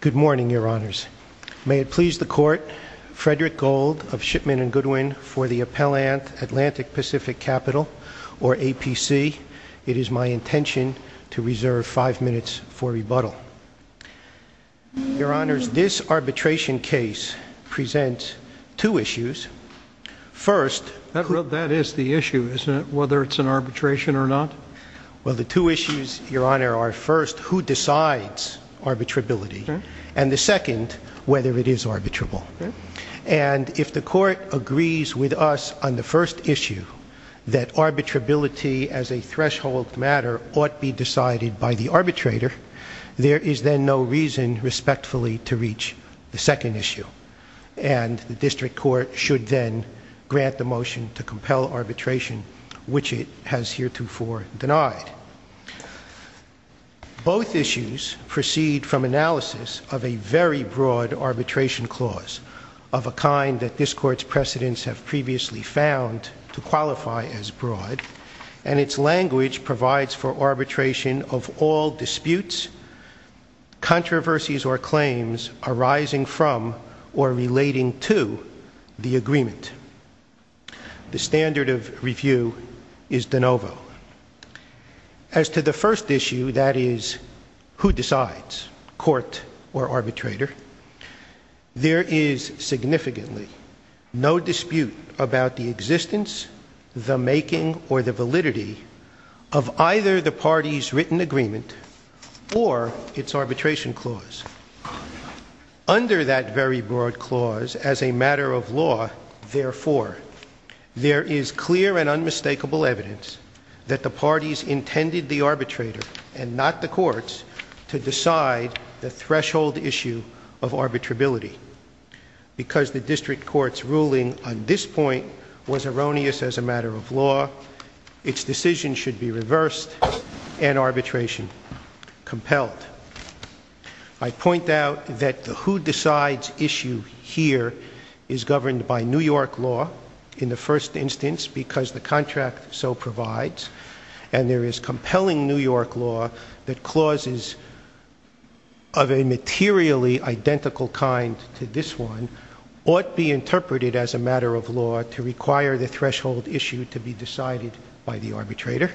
Good morning, Your Honors. May it please the Court, Frederick Gold of Shipman & Goodwin for the Appellant, Atlantic-Pacific Capital, or APC. It is my intention to reserve five minutes for rebuttal. Your Honors, this arbitration case presents two issues. First... That is the issue, isn't it, whether it's an arbitration or not? Well, the two issues, Your Honor, are first, who decides arbitrability, and the second, whether it is arbitrable. And if the Court agrees with us on the first issue, that arbitrability as a threshold matter ought be decided by the arbitrator, there is then no reason, respectfully, to reach the second issue. And the District Court should then grant the motion to compel arbitration, which it has heretofore denied. Both issues proceed from analysis of a very broad arbitration clause, of a kind that this Court's precedents have previously found to qualify as broad. And its language provides for arbitration of all disputes, controversies, or claims arising from or relating to the agreement. The standard of review is de novo. As to the first issue, that is, who decides, court or arbitrator, there is significantly no dispute about the existence, the making, or the validity of either the party's written agreement or its arbitration clause. Under that very broad clause, as a matter of law, therefore, there is clear and unmistakable evidence that the parties intended the arbitrator, and not the courts, to decide the threshold issue of arbitrability. Because the District Court's ruling on this point was erroneous as a matter of law, its decision should be reversed and arbitration compelled. I point out that the who decides issue here is governed by New York law, in the first instance, because the contract so provides. And there is compelling New York law that clauses of a materially identical kind to this one ought be interpreted as a matter of law to require the threshold issue to be decided by the arbitrator.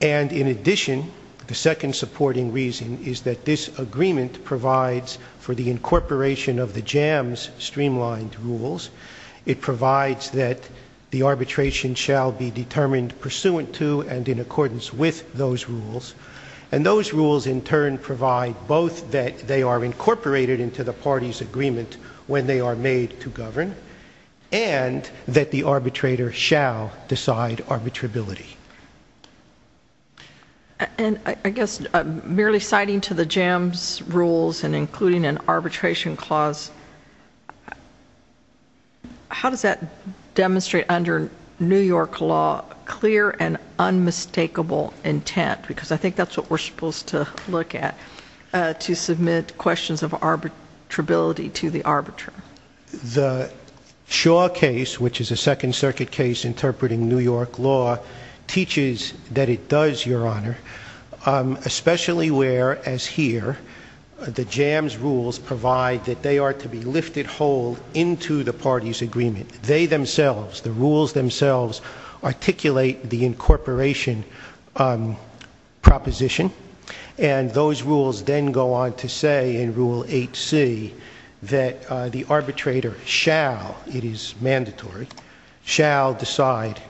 And, in addition, the second supporting reason is that this agreement provides for the incorporation of the JAMS streamlined rules. It provides that the arbitration shall be determined pursuant to and in accordance with those rules. And those rules, in turn, provide both that they are incorporated into the party's agreement when they are made to govern, and that the arbitrator shall decide arbitrability. And, I guess, merely citing to the JAMS rules and including an arbitration clause, how does that demonstrate under New York law clear and unmistakable intent? Because I think that's what we're supposed to look at to submit questions of arbitrability to the arbiter. The Shaw case, which is a Second Circuit case interpreting New York law, teaches that it does, Your Honor, especially where, as here, the JAMS rules provide that they are to be lifted whole into the party's agreement. They themselves, the rules themselves, articulate the incorporation proposition. And those rules then go on to say in Rule 8C that the arbitrator shall, it is mandatory, shall decide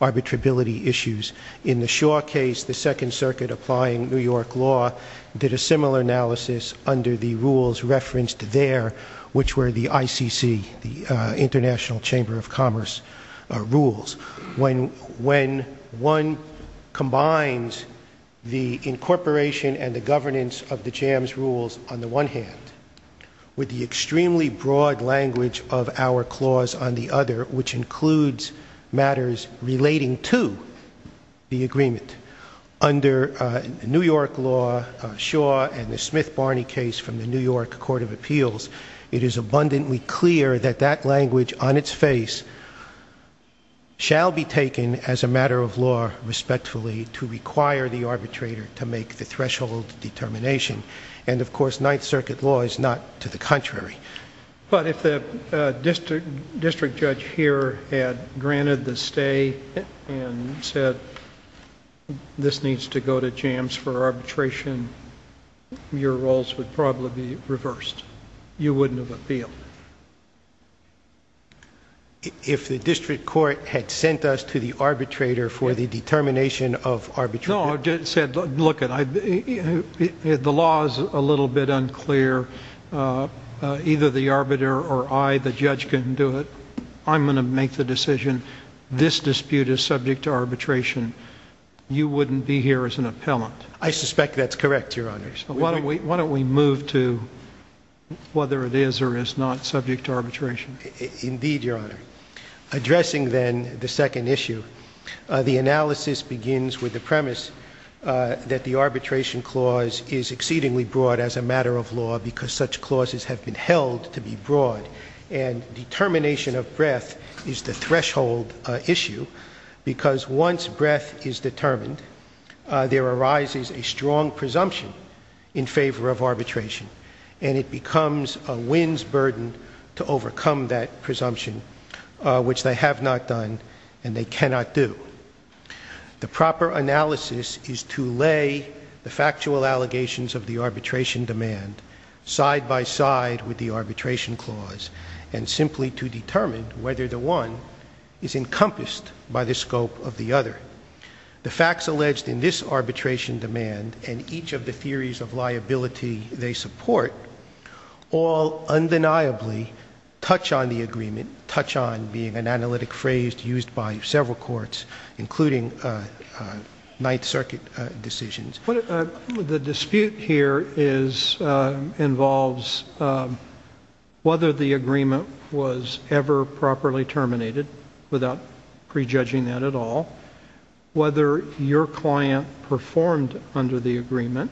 arbitrability issues. In the Shaw case, the Second Circuit applying New York law did a similar analysis under the rules referenced there, which were the ICC, the International Chamber of Commerce rules. When one combines the incorporation and the governance of the JAMS rules on the one hand with the extremely broad language of our clause on the other, which includes matters relating to the agreement, under New York law, Shaw and the Smith-Barney case from the New York Court of Appeals, it is abundantly clear that that language on its face shall be taken as a matter of law respectfully to require the arbitrator to make the threshold determination. And, of course, Ninth Circuit law is not to the contrary. But if the district judge here had granted the stay and said, this needs to go to JAMS for arbitration, your roles would probably be reversed. You wouldn't have appealed. If the district court had sent us to the arbitrator for the determination of arbitration... No, it said, look, the law is a little bit unclear. Either the arbiter or I, the judge, can do it. I'm going to make the decision. This dispute is subject to arbitration. You wouldn't be here as an appellant. I suspect that's correct, Your Honor. Why don't we move to whether it is or is not subject to arbitration. Indeed, Your Honor. Addressing then the second issue, the analysis begins with the premise that the arbitration clause is exceedingly broad as a matter of law because such clauses have been held to be broad. And determination of breadth is the threshold issue because once breadth is determined, there arises a strong presumption in favor of arbitration. And it becomes a wind's burden to overcome that presumption, which they have not done and they cannot do. The proper analysis is to lay the factual allegations of the arbitration demand side by side with the arbitration clause and simply to determine whether the one is encompassed by the scope of the other. The facts alleged in this arbitration demand and each of the theories of liability they support all undeniably touch on the agreement, touch on being an analytic phrase used by several courts, including Ninth Circuit decisions. The dispute here involves whether the agreement was ever properly terminated without prejudging that at all, whether your client performed under the agreement,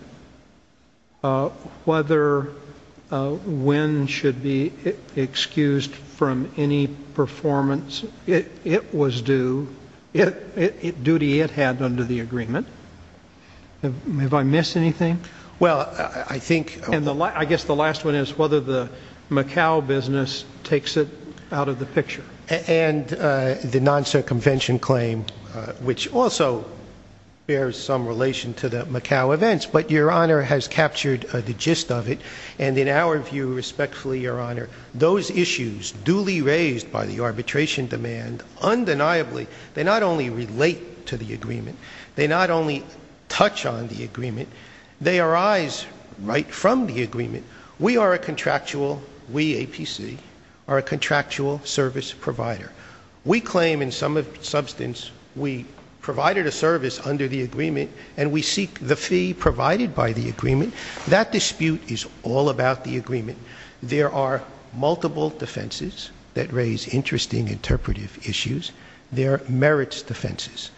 whether when should be excused from any performance. It was due, duty it had under the agreement. Have I missed anything? Well, I think, I guess the last one is whether the Macau business takes it out of the picture. And the non-circumvention claim, which also bears some relation to the Macau events, but your Honor has captured the gist of it. And in our view, respectfully, your Honor, those issues duly raised by the arbitration demand, undeniably they not only relate to the agreement, they not only touch on the agreement, they arise right from the agreement. We are a contractual, we APC, are a contractual service provider. We claim in some substance we provided a service under the agreement and we seek the fee provided by the agreement. That dispute is all about the agreement. There are multiple defenses that raise interesting interpretive issues. There are merits defenses.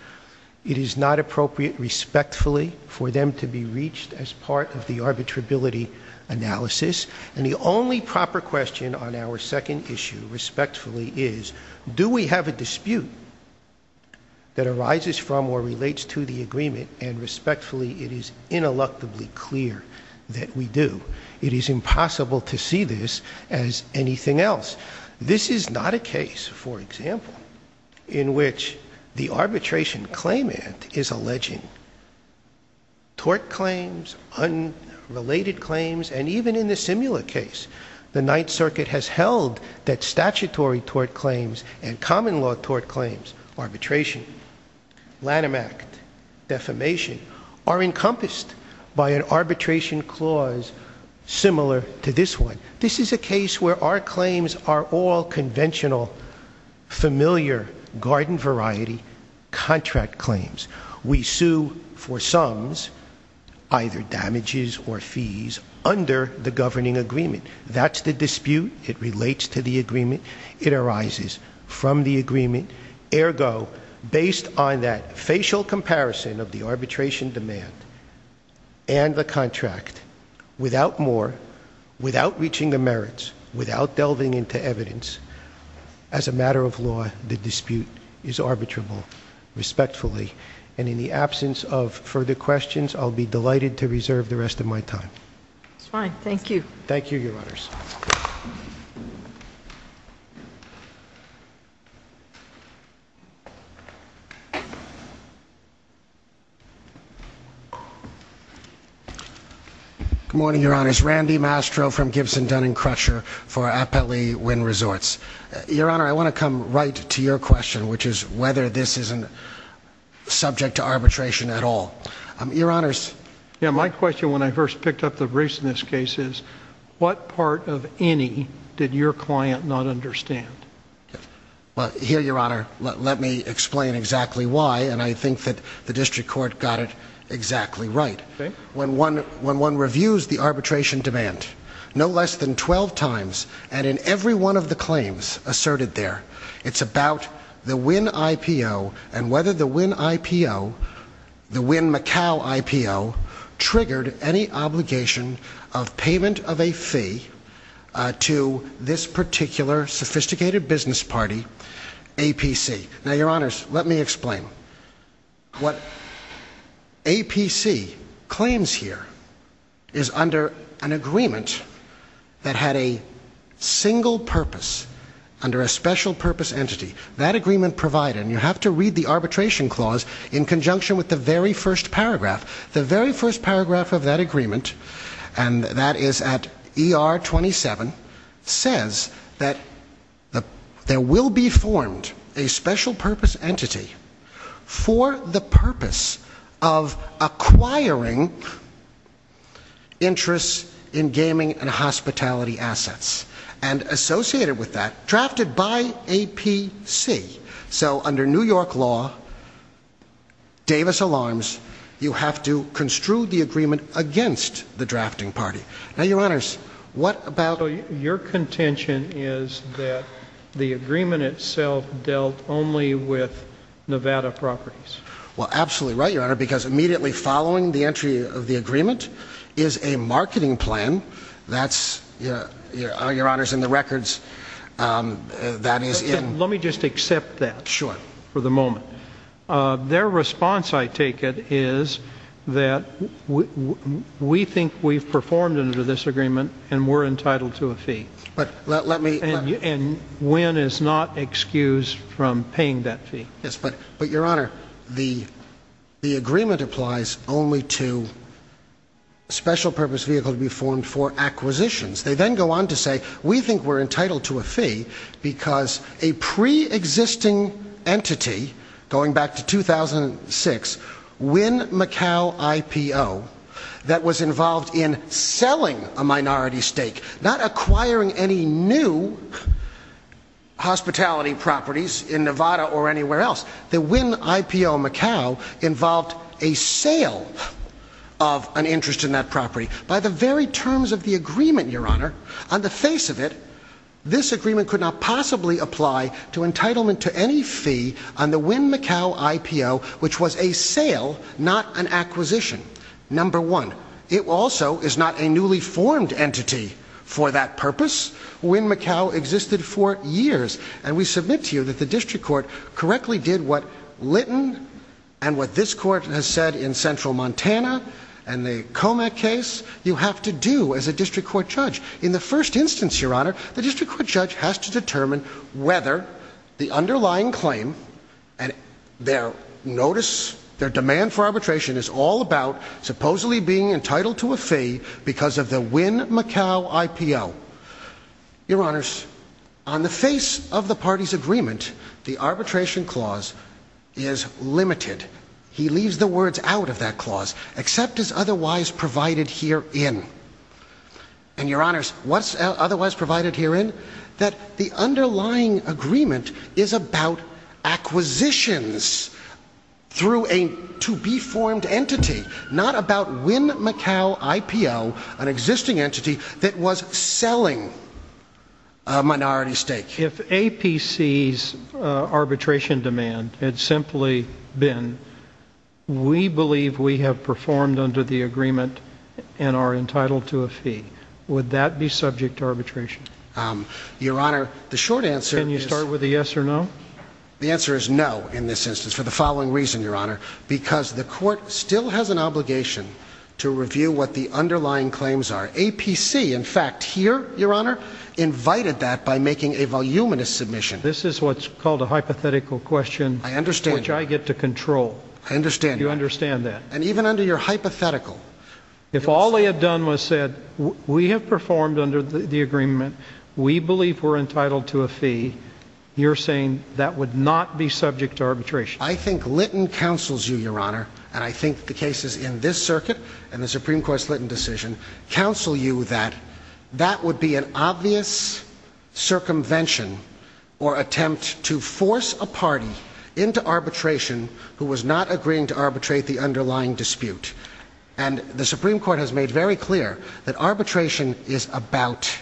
It is not appropriate respectfully for them to be reached as part of the arbitrability analysis. And the only proper question on our second issue respectfully is, do we have a dispute that arises from or relates to the agreement? And respectfully, it is ineluctably clear that we do. It is impossible to see this as anything else. This is not a case, for example, in which the arbitration claimant is alleging tort claims, unrelated claims, and even in the similar case, the Ninth Circuit has held that statutory tort claims and common law tort claims, arbitration, Lanham Act, defamation, are encompassed by an arbitration clause similar to this one. This is a case where our claims are all conventional, familiar, garden variety, contract claims. We sue for sums, either damages or fees, under the governing agreement. That's the dispute. It relates to the agreement. It arises from the agreement. Ergo, based on that facial comparison of the arbitration demand and the contract, without more, without reaching the merits, without delving into evidence, as a matter of law, the dispute is arbitrable respectfully. And in the absence of further questions, I'll be delighted to reserve the rest of my time. That's fine. Thank you. Thank you, Your Honors. Good morning, Your Honors. Randy Mastro from Gibson Dun and Crusher for Appellee Wind Resorts. Your Honor, I want to come right to your question, which is whether this is subject to arbitration at all. Your Honors. Yeah, my question when I first picked up the briefs in this case is, what part of any did your client not understand? Well, here, Your Honor, let me explain exactly why, and I think that the district court got it exactly right. Okay. When one reviews the arbitration demand no less than 12 times, and in every one of the claims asserted there, it's about the Wynn IPO and whether the Wynn IPO, the Wynn-McCowl IPO, triggered any obligation of payment of a fee to this particular sophisticated business party, APC. Now, Your Honors, let me explain. What APC claims here is under an agreement that had a single purpose under a special purpose entity. That agreement provided, and you have to read the arbitration clause in conjunction with the very first paragraph. The very first paragraph of that agreement, and that is at ER 27, says that there will be formed a special purpose entity for the purpose of acquiring interest in gaming and hospitality assets, and associated with that, drafted by APC. So, under New York law, Davis alarms, you have to construe the agreement against the drafting party. Now, Your Honors, what about... So, your contention is that the agreement itself dealt only with Nevada properties. Well, absolutely right, Your Honor, because immediately following the entry of the agreement is a marketing plan. That's, Your Honors, in the records, that is in... Let me just accept that for the moment. Their response, I take it, is that we think we've performed under this agreement and we're entitled to a fee. But let me... And win is not excused from paying that fee. Yes, but Your Honor, the agreement applies only to special purpose vehicle to be formed for acquisitions. They then go on to say, we think we're entitled to a fee because a pre-existing entity, going back to 2006, Wynn-Macao IPO, that was involved in selling a minority stake, not acquiring any new hospitality properties in Nevada or anywhere else. The Wynn-Macao IPO involved a sale of an interest in that property. By the very terms of the agreement, Your Honor, on the face of it, this agreement could not possibly apply to entitlement to any fee on the Wynn-Macao IPO, which was a sale, not an acquisition. Number one, it also is not a newly formed entity for that purpose. Wynn-Macao existed for years. And we submit to you that the district court correctly did what Lytton and what this court has said in Central Montana and the Comec case, you have to do as a district court judge. In the first instance, Your Honor, the district court judge has to determine whether the underlying claim and their notice, their demand for arbitration is all about supposedly being entitled to a fee because of the Wynn-Macao IPO. Your Honors, on the face of the party's agreement, the arbitration clause is limited. He leaves the words out of that clause, except as otherwise provided herein. And Your Honors, what's otherwise provided herein? that the underlying agreement is about acquisitions through a to-be-formed entity, not about Wynn-Macao IPO, an existing entity that was selling a minority stake. If APC's arbitration demand had simply been we believe we have performed under the agreement and are entitled to a fee, would that be subject to arbitration? Your Honor, the short answer is... Can you start with a yes or no? The answer is no in this instance for the following reason, Your Honor. Because the court still has an obligation to review what the underlying claims are. APC, in fact, here, Your Honor, invited that by making a voluminous submission. This is what's called a hypothetical question. I understand. Which I get to control. I understand. You understand that. And even under your hypothetical... We believe we're entitled to a fee. You're saying that would not be subject to arbitration. I think Lytton counsels you, Your Honor. And I think the cases in this circuit and the Supreme Court's Lytton decision counsel you that that would be an obvious circumvention or attempt to force a party into arbitration who was not agreeing to arbitrate the underlying dispute. And the Supreme Court has made very clear that arbitration is about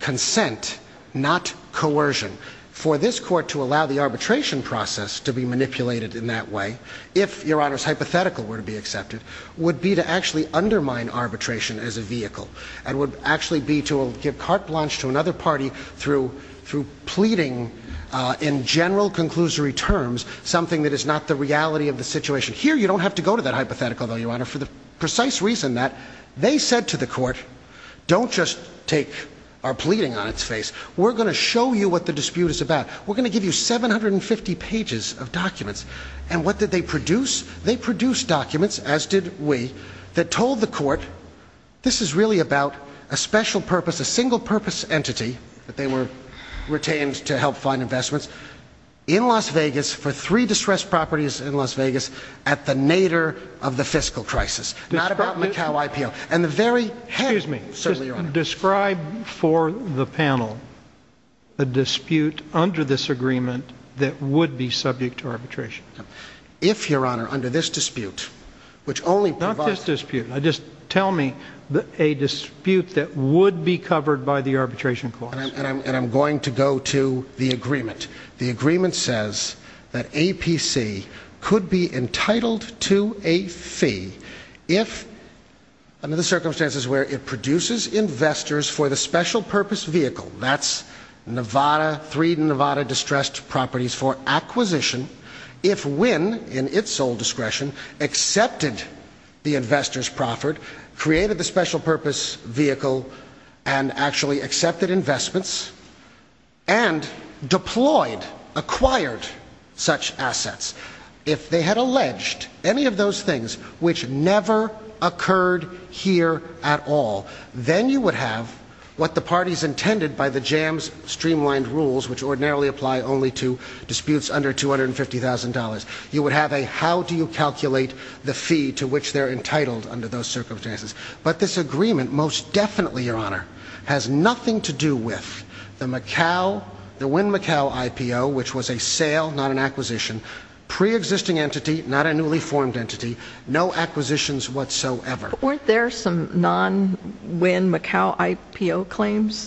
consent, not coercion. For this court to allow the arbitration process to be manipulated in that way, if, Your Honor's hypothetical were to be accepted, would be to actually undermine arbitration as a vehicle and would actually be to give carte blanche to another party through pleading in general conclusory terms something that is not the reality of the situation. Here, you don't have to go to that hypothetical, Your Honor, for the precise reason that they said to the court, don't just take our pleading on its face. We're going to show you what the dispute is about. We're going to give you 750 pages of documents. And what did they produce? They produced documents, as did we, that told the court, this is really about a special purpose, a single purpose entity that they were retained to help find investments in Las Vegas for three distressed properties in Las Vegas at the nadir of the fiscal crisis. Not about Macau IPO. Excuse me. Certainly, Your Honor. Describe for the panel a dispute under this agreement that would be subject to arbitration. If, Your Honor, under this dispute, which only provides... Not this dispute. Just tell me a dispute that would be covered by the arbitration clause. And I'm going to go to the agreement. The agreement says that APC could be entitled to a fee if, under the circumstances where it produces investors for the special purpose vehicle, that's Nevada, three Nevada distressed properties for acquisition, if Wynn, in its sole discretion, accepted the investors proffered, created the special purpose vehicle, and actually accepted investments, and deployed, acquired such assets, if they had alleged any of those things, which never occurred here at all, then you would have what the parties intended by the JAMS streamlined rules, which ordinarily apply only to disputes under $250,000. You would have a how-do-you-calculate-the-fee to which they're entitled under those circumstances. But this agreement, most definitely, Your Honor, has nothing to do with the Wynn-Macau IPO, which was a sale, not an acquisition, pre-existing entity, not a newly formed entity, no acquisitions whatsoever. Weren't there some non-Wynn-Macau IPO claims?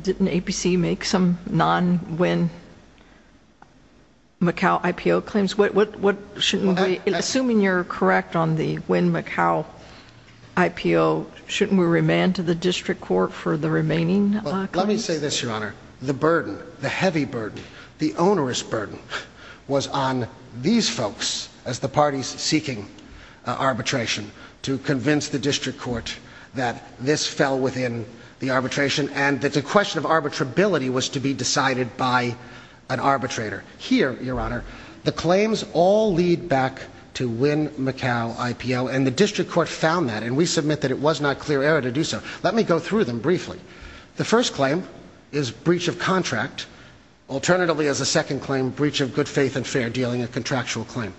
Didn't APC make some non-Wynn-Macau IPO claims? Assuming you're correct on the Wynn-Macau IPO, shouldn't we remand to the district court for the remaining claims? Let me say this, Your Honor. The burden, the heavy burden, the onerous burden, was on these folks as the parties seeking arbitration to convince the district court that this fell within the arbitration and that the question of arbitrability was to be decided by an arbitrator. Here, Your Honor, the claims all lead back to Wynn-Macau IPO, and the district court found that, and we submit that it was not clear error to do so. Let me go through them briefly. The first claim is breach of contract. Alternatively, as a second claim, breach of good faith and fair dealing, a contractual claim.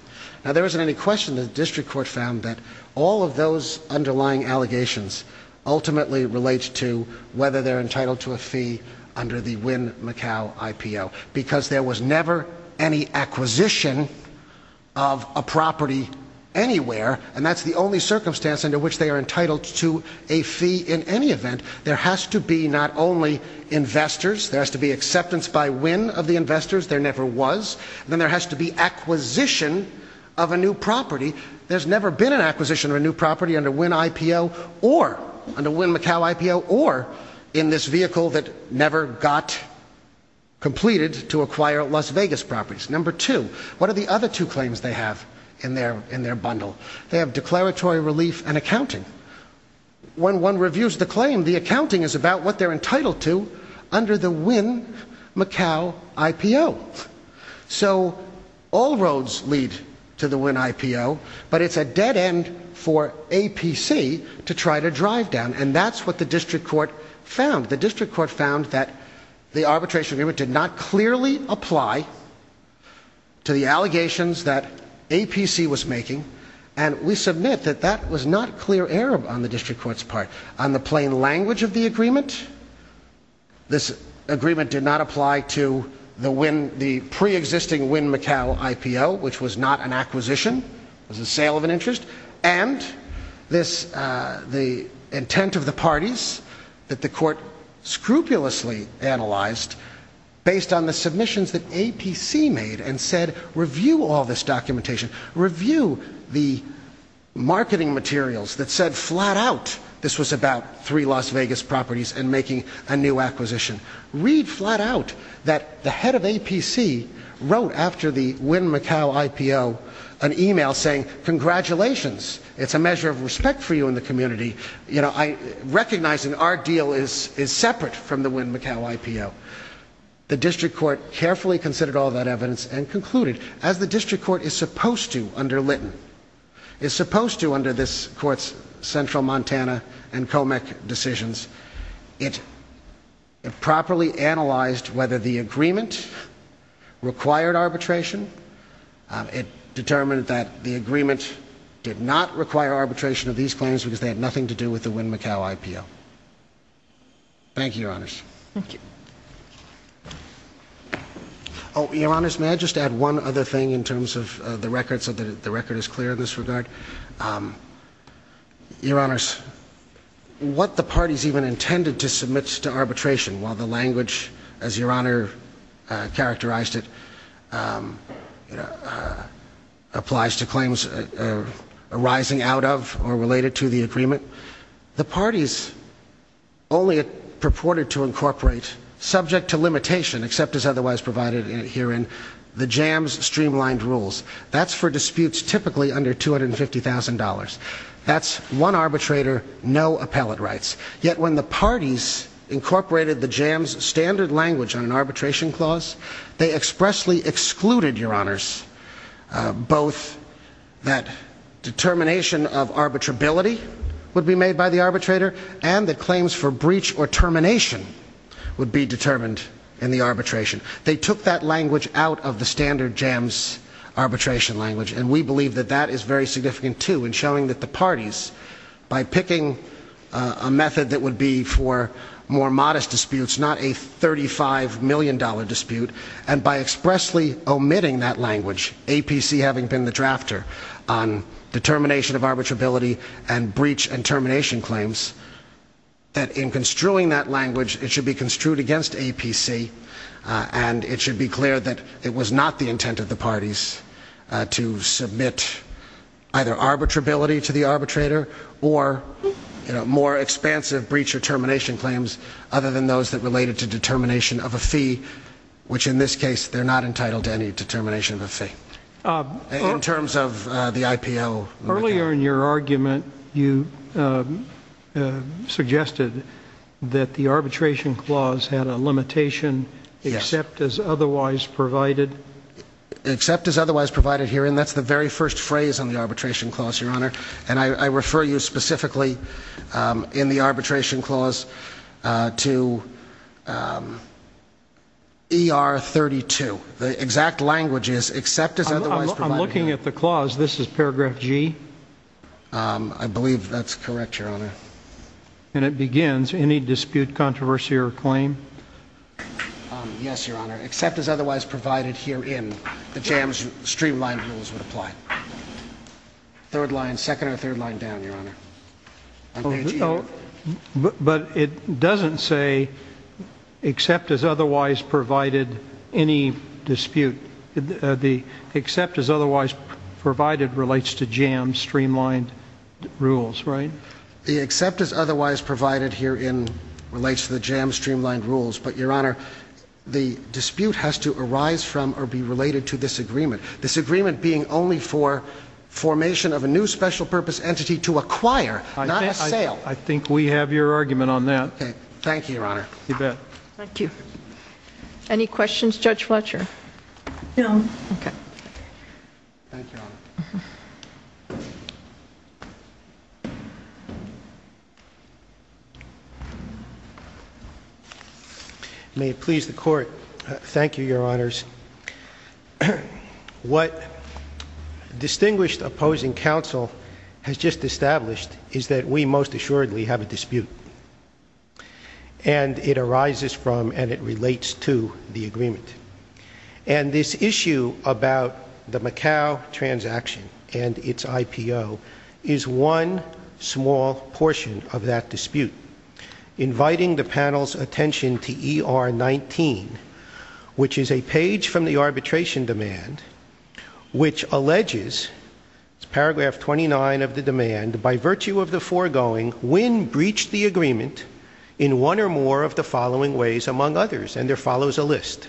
Now, there isn't any question that the district court found that all of those underlying allegations ultimately relate to whether they're entitled to a fee under the Wynn-Macau IPO, because there was never any acquisition of a property anywhere, and that's the only circumstance under which they are entitled to a fee in any event. There has to be not only investors. There has to be acceptance by Wynn of the investors. There never was. Then there has to be acquisition of a new property. There's never been an acquisition of a new property under Wynn-Macau IPO or in this vehicle that never got completed to acquire Las Vegas properties. Number two, what are the other two claims they have in their bundle? They have declaratory relief and accounting. When one reviews the claim, the accounting is about what they're entitled to under the Wynn-Macau IPO. So all roads lead to the Wynn IPO, but it's a dead end for APC to try to drive down, and that's what the district court found. The district court found that the arbitration agreement did not clearly apply to the allegations that APC was making, and we submit that that was not clear error on the district court's part. On the plain language of the agreement, this agreement did not apply to the pre-existing Wynn-Macau IPO, which was not an acquisition. It was a sale of an interest. And the intent of the parties that the court scrupulously analyzed based on the submissions that APC made and said, Review all this documentation. Review the marketing materials that said flat out this was about three Las Vegas properties and making a new acquisition. Read flat out that the head of APC wrote after the Wynn-Macau IPO an email saying, Congratulations, it's a measure of respect for you in the community. Recognizing our deal is separate from the Wynn-Macau IPO. The district court carefully considered all that evidence and concluded, as the district court is supposed to under Lytton, is supposed to under this court's Central Montana and COMEC decisions, it properly analyzed whether the agreement required arbitration. It determined that the agreement did not require arbitration of these claims because they had nothing to do with the Wynn-Macau IPO. Thank you, Your Honors. Thank you. Oh, Your Honors, may I just add one other thing in terms of the record so that the record is clear in this regard? Your Honors, what the parties even intended to submit to arbitration, while the language, as Your Honor characterized it, applies to claims arising out of or related to the agreement, the parties only purported to incorporate, subject to limitation, except as otherwise provided herein, the JAMS streamlined rules. That's for disputes typically under $250,000. That's one arbitrator, no appellate rights. Yet when the parties incorporated the JAMS standard language on an arbitration clause, they expressly excluded, Your Honors, both that determination of arbitrability would be made by the arbitrator and that claims for breach or termination would be determined in the arbitration. They took that language out of the standard JAMS arbitration language, and we believe that that is very significant, too, in showing that the parties, by picking a method that would be for more modest disputes, not a $35 million dispute, and by expressly omitting that language, APC having been the drafter on determination of arbitrability and breach and termination claims, that in construing that language, it should be construed against APC, and it should be clear that it was not the intent of the parties to submit either arbitrability to the arbitrator or more expansive breach or termination claims other than those that related to determination of a fee, which in this case, they're not entitled to any determination of a fee. In terms of the IPO. Earlier in your argument, you suggested that the arbitration clause had a limitation, except as otherwise provided. Except as otherwise provided here, and that's the very first phrase on the arbitration clause, Your Honor, and I refer you specifically in the arbitration clause to ER 32. The exact language is except as otherwise provided. I'm looking at the clause. This is paragraph G. I believe that's correct, Your Honor. And it begins, any dispute, controversy, or claim? Yes, Your Honor. Except as otherwise provided herein, the JAMS streamlined rules would apply. Third line, second or third line down, Your Honor. But it doesn't say except as otherwise provided any dispute. The except as otherwise provided relates to JAMS streamlined rules, right? The except as otherwise provided herein relates to the JAMS streamlined rules, but, Your Honor, the dispute has to arise from or be related to this agreement. This agreement being only for formation of a new special purpose entity to acquire, not a sale. I think we have your argument on that. Okay. Thank you, Your Honor. You bet. Thank you. No. Okay. Thank you, Your Honor. May it please the Court. Thank you, Your Honors. What distinguished opposing counsel has just established is that we most assuredly have a dispute. And it arises from and it relates to the agreement. And this issue about the Macau transaction and its IPO is one small portion of that dispute. Inviting the panel's attention to ER 19, which is a page from the arbitration demand, which alleges, paragraph 29 of the demand, by virtue of the foregoing, when breached the agreement in one or more of the following ways among others. And there follows a list.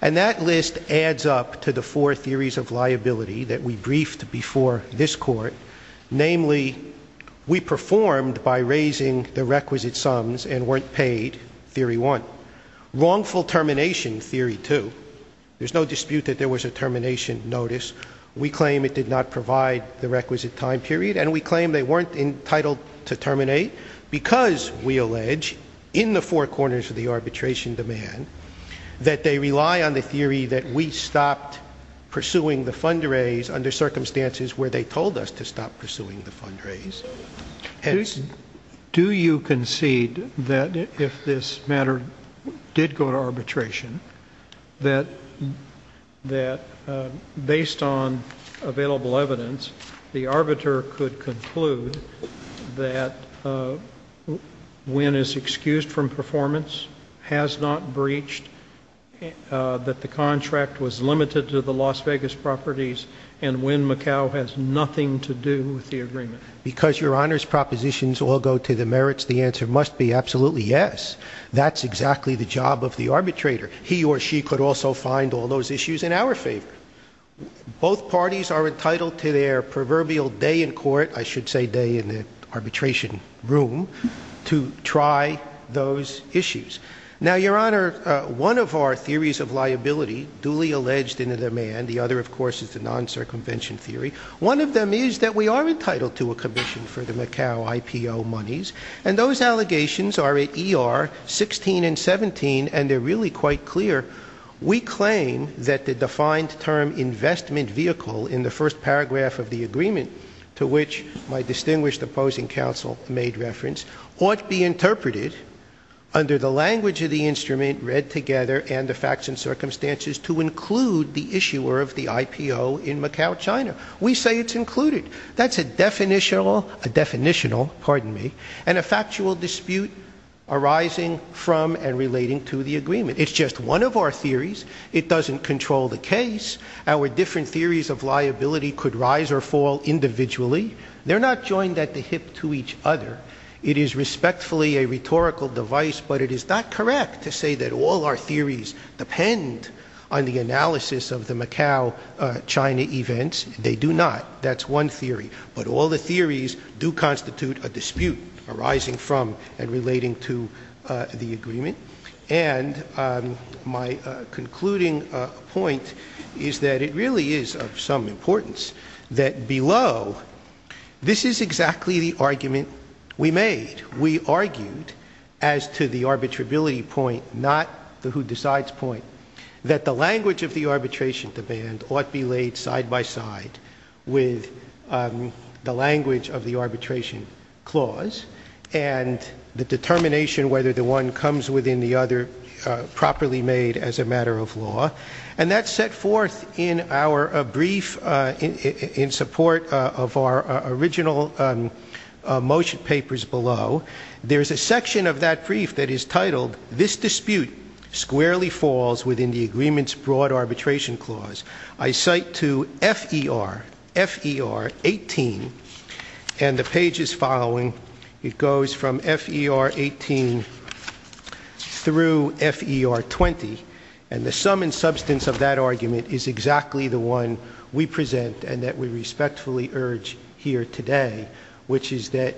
And that list adds up to the four theories of liability that we briefed before this court. Namely, we performed by raising the requisite sums and weren't paid, theory one. Wrongful termination, theory two. There's no dispute that there was a termination notice. We claim it did not provide the requisite time period. And we claim they weren't entitled to terminate because, we allege, in the four corners of the arbitration demand, that they rely on the theory that we stopped pursuing the fundraise under circumstances where they told us to stop pursuing the fundraise. Do you concede that if this matter did go to arbitration, that based on available evidence, the arbiter could conclude that Wynn is excused from performance, has not breached, that the contract was limited to the Las Vegas properties, and Wynn Macau has nothing to do with the agreement? Because, Your Honor's propositions all go to the merits, the answer must be absolutely yes. That's exactly the job of the arbitrator. He or she could also find all those issues in our favor. Both parties are entitled to their proverbial day in court, I should say day in the arbitration room, to try those issues. Now, Your Honor, one of our theories of liability, duly alleged in the demand, the other, of course, is the non-circumvention theory. One of them is that we are entitled to a commission for the Macau IPO monies, and those allegations are at ER 16 and 17, and they're really quite clear. We claim that the defined term investment vehicle in the first paragraph of the agreement, to which my distinguished opposing counsel made reference, ought be interpreted under the language of the instrument read together and the facts and circumstances to include the issuer of the IPO in Macau, China. We say it's included. That's a definitional, pardon me, and a factual dispute arising from and relating to the agreement. It's just one of our theories. It doesn't control the case. Our different theories of liability could rise or fall individually. They're not joined at the hip to each other. It is respectfully a rhetorical device, but it is not correct to say that all our theories depend on the analysis of the Macau, China events. They do not. That's one theory. But all the theories do constitute a dispute arising from and relating to the agreement. And my concluding point is that it really is of some importance that below, this is exactly the argument we made. We argued as to the arbitrability point, not the who decides point, that the language of the arbitration demand ought be laid side by side with the language of the arbitration clause and the determination whether the one comes within the other properly made as a matter of law. And that's set forth in our brief in support of our original motion papers below. There's a section of that brief that is titled, This dispute squarely falls within the agreement's broad arbitration clause. I cite to FER18, and the page is following. It goes from FER18 through FER20. And the sum and substance of that argument is exactly the one we present and that we respectfully urge here today, which is that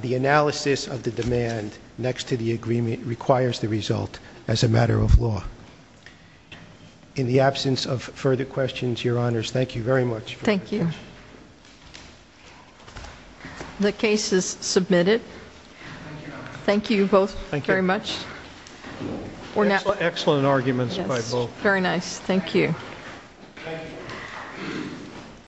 the analysis of the demand next to the agreement requires the result as a matter of law. In the absence of further questions, Your Honors, thank you very much. Thank you. The case is submitted. Thank you both very much. Excellent arguments by both. Very nice. Thank you.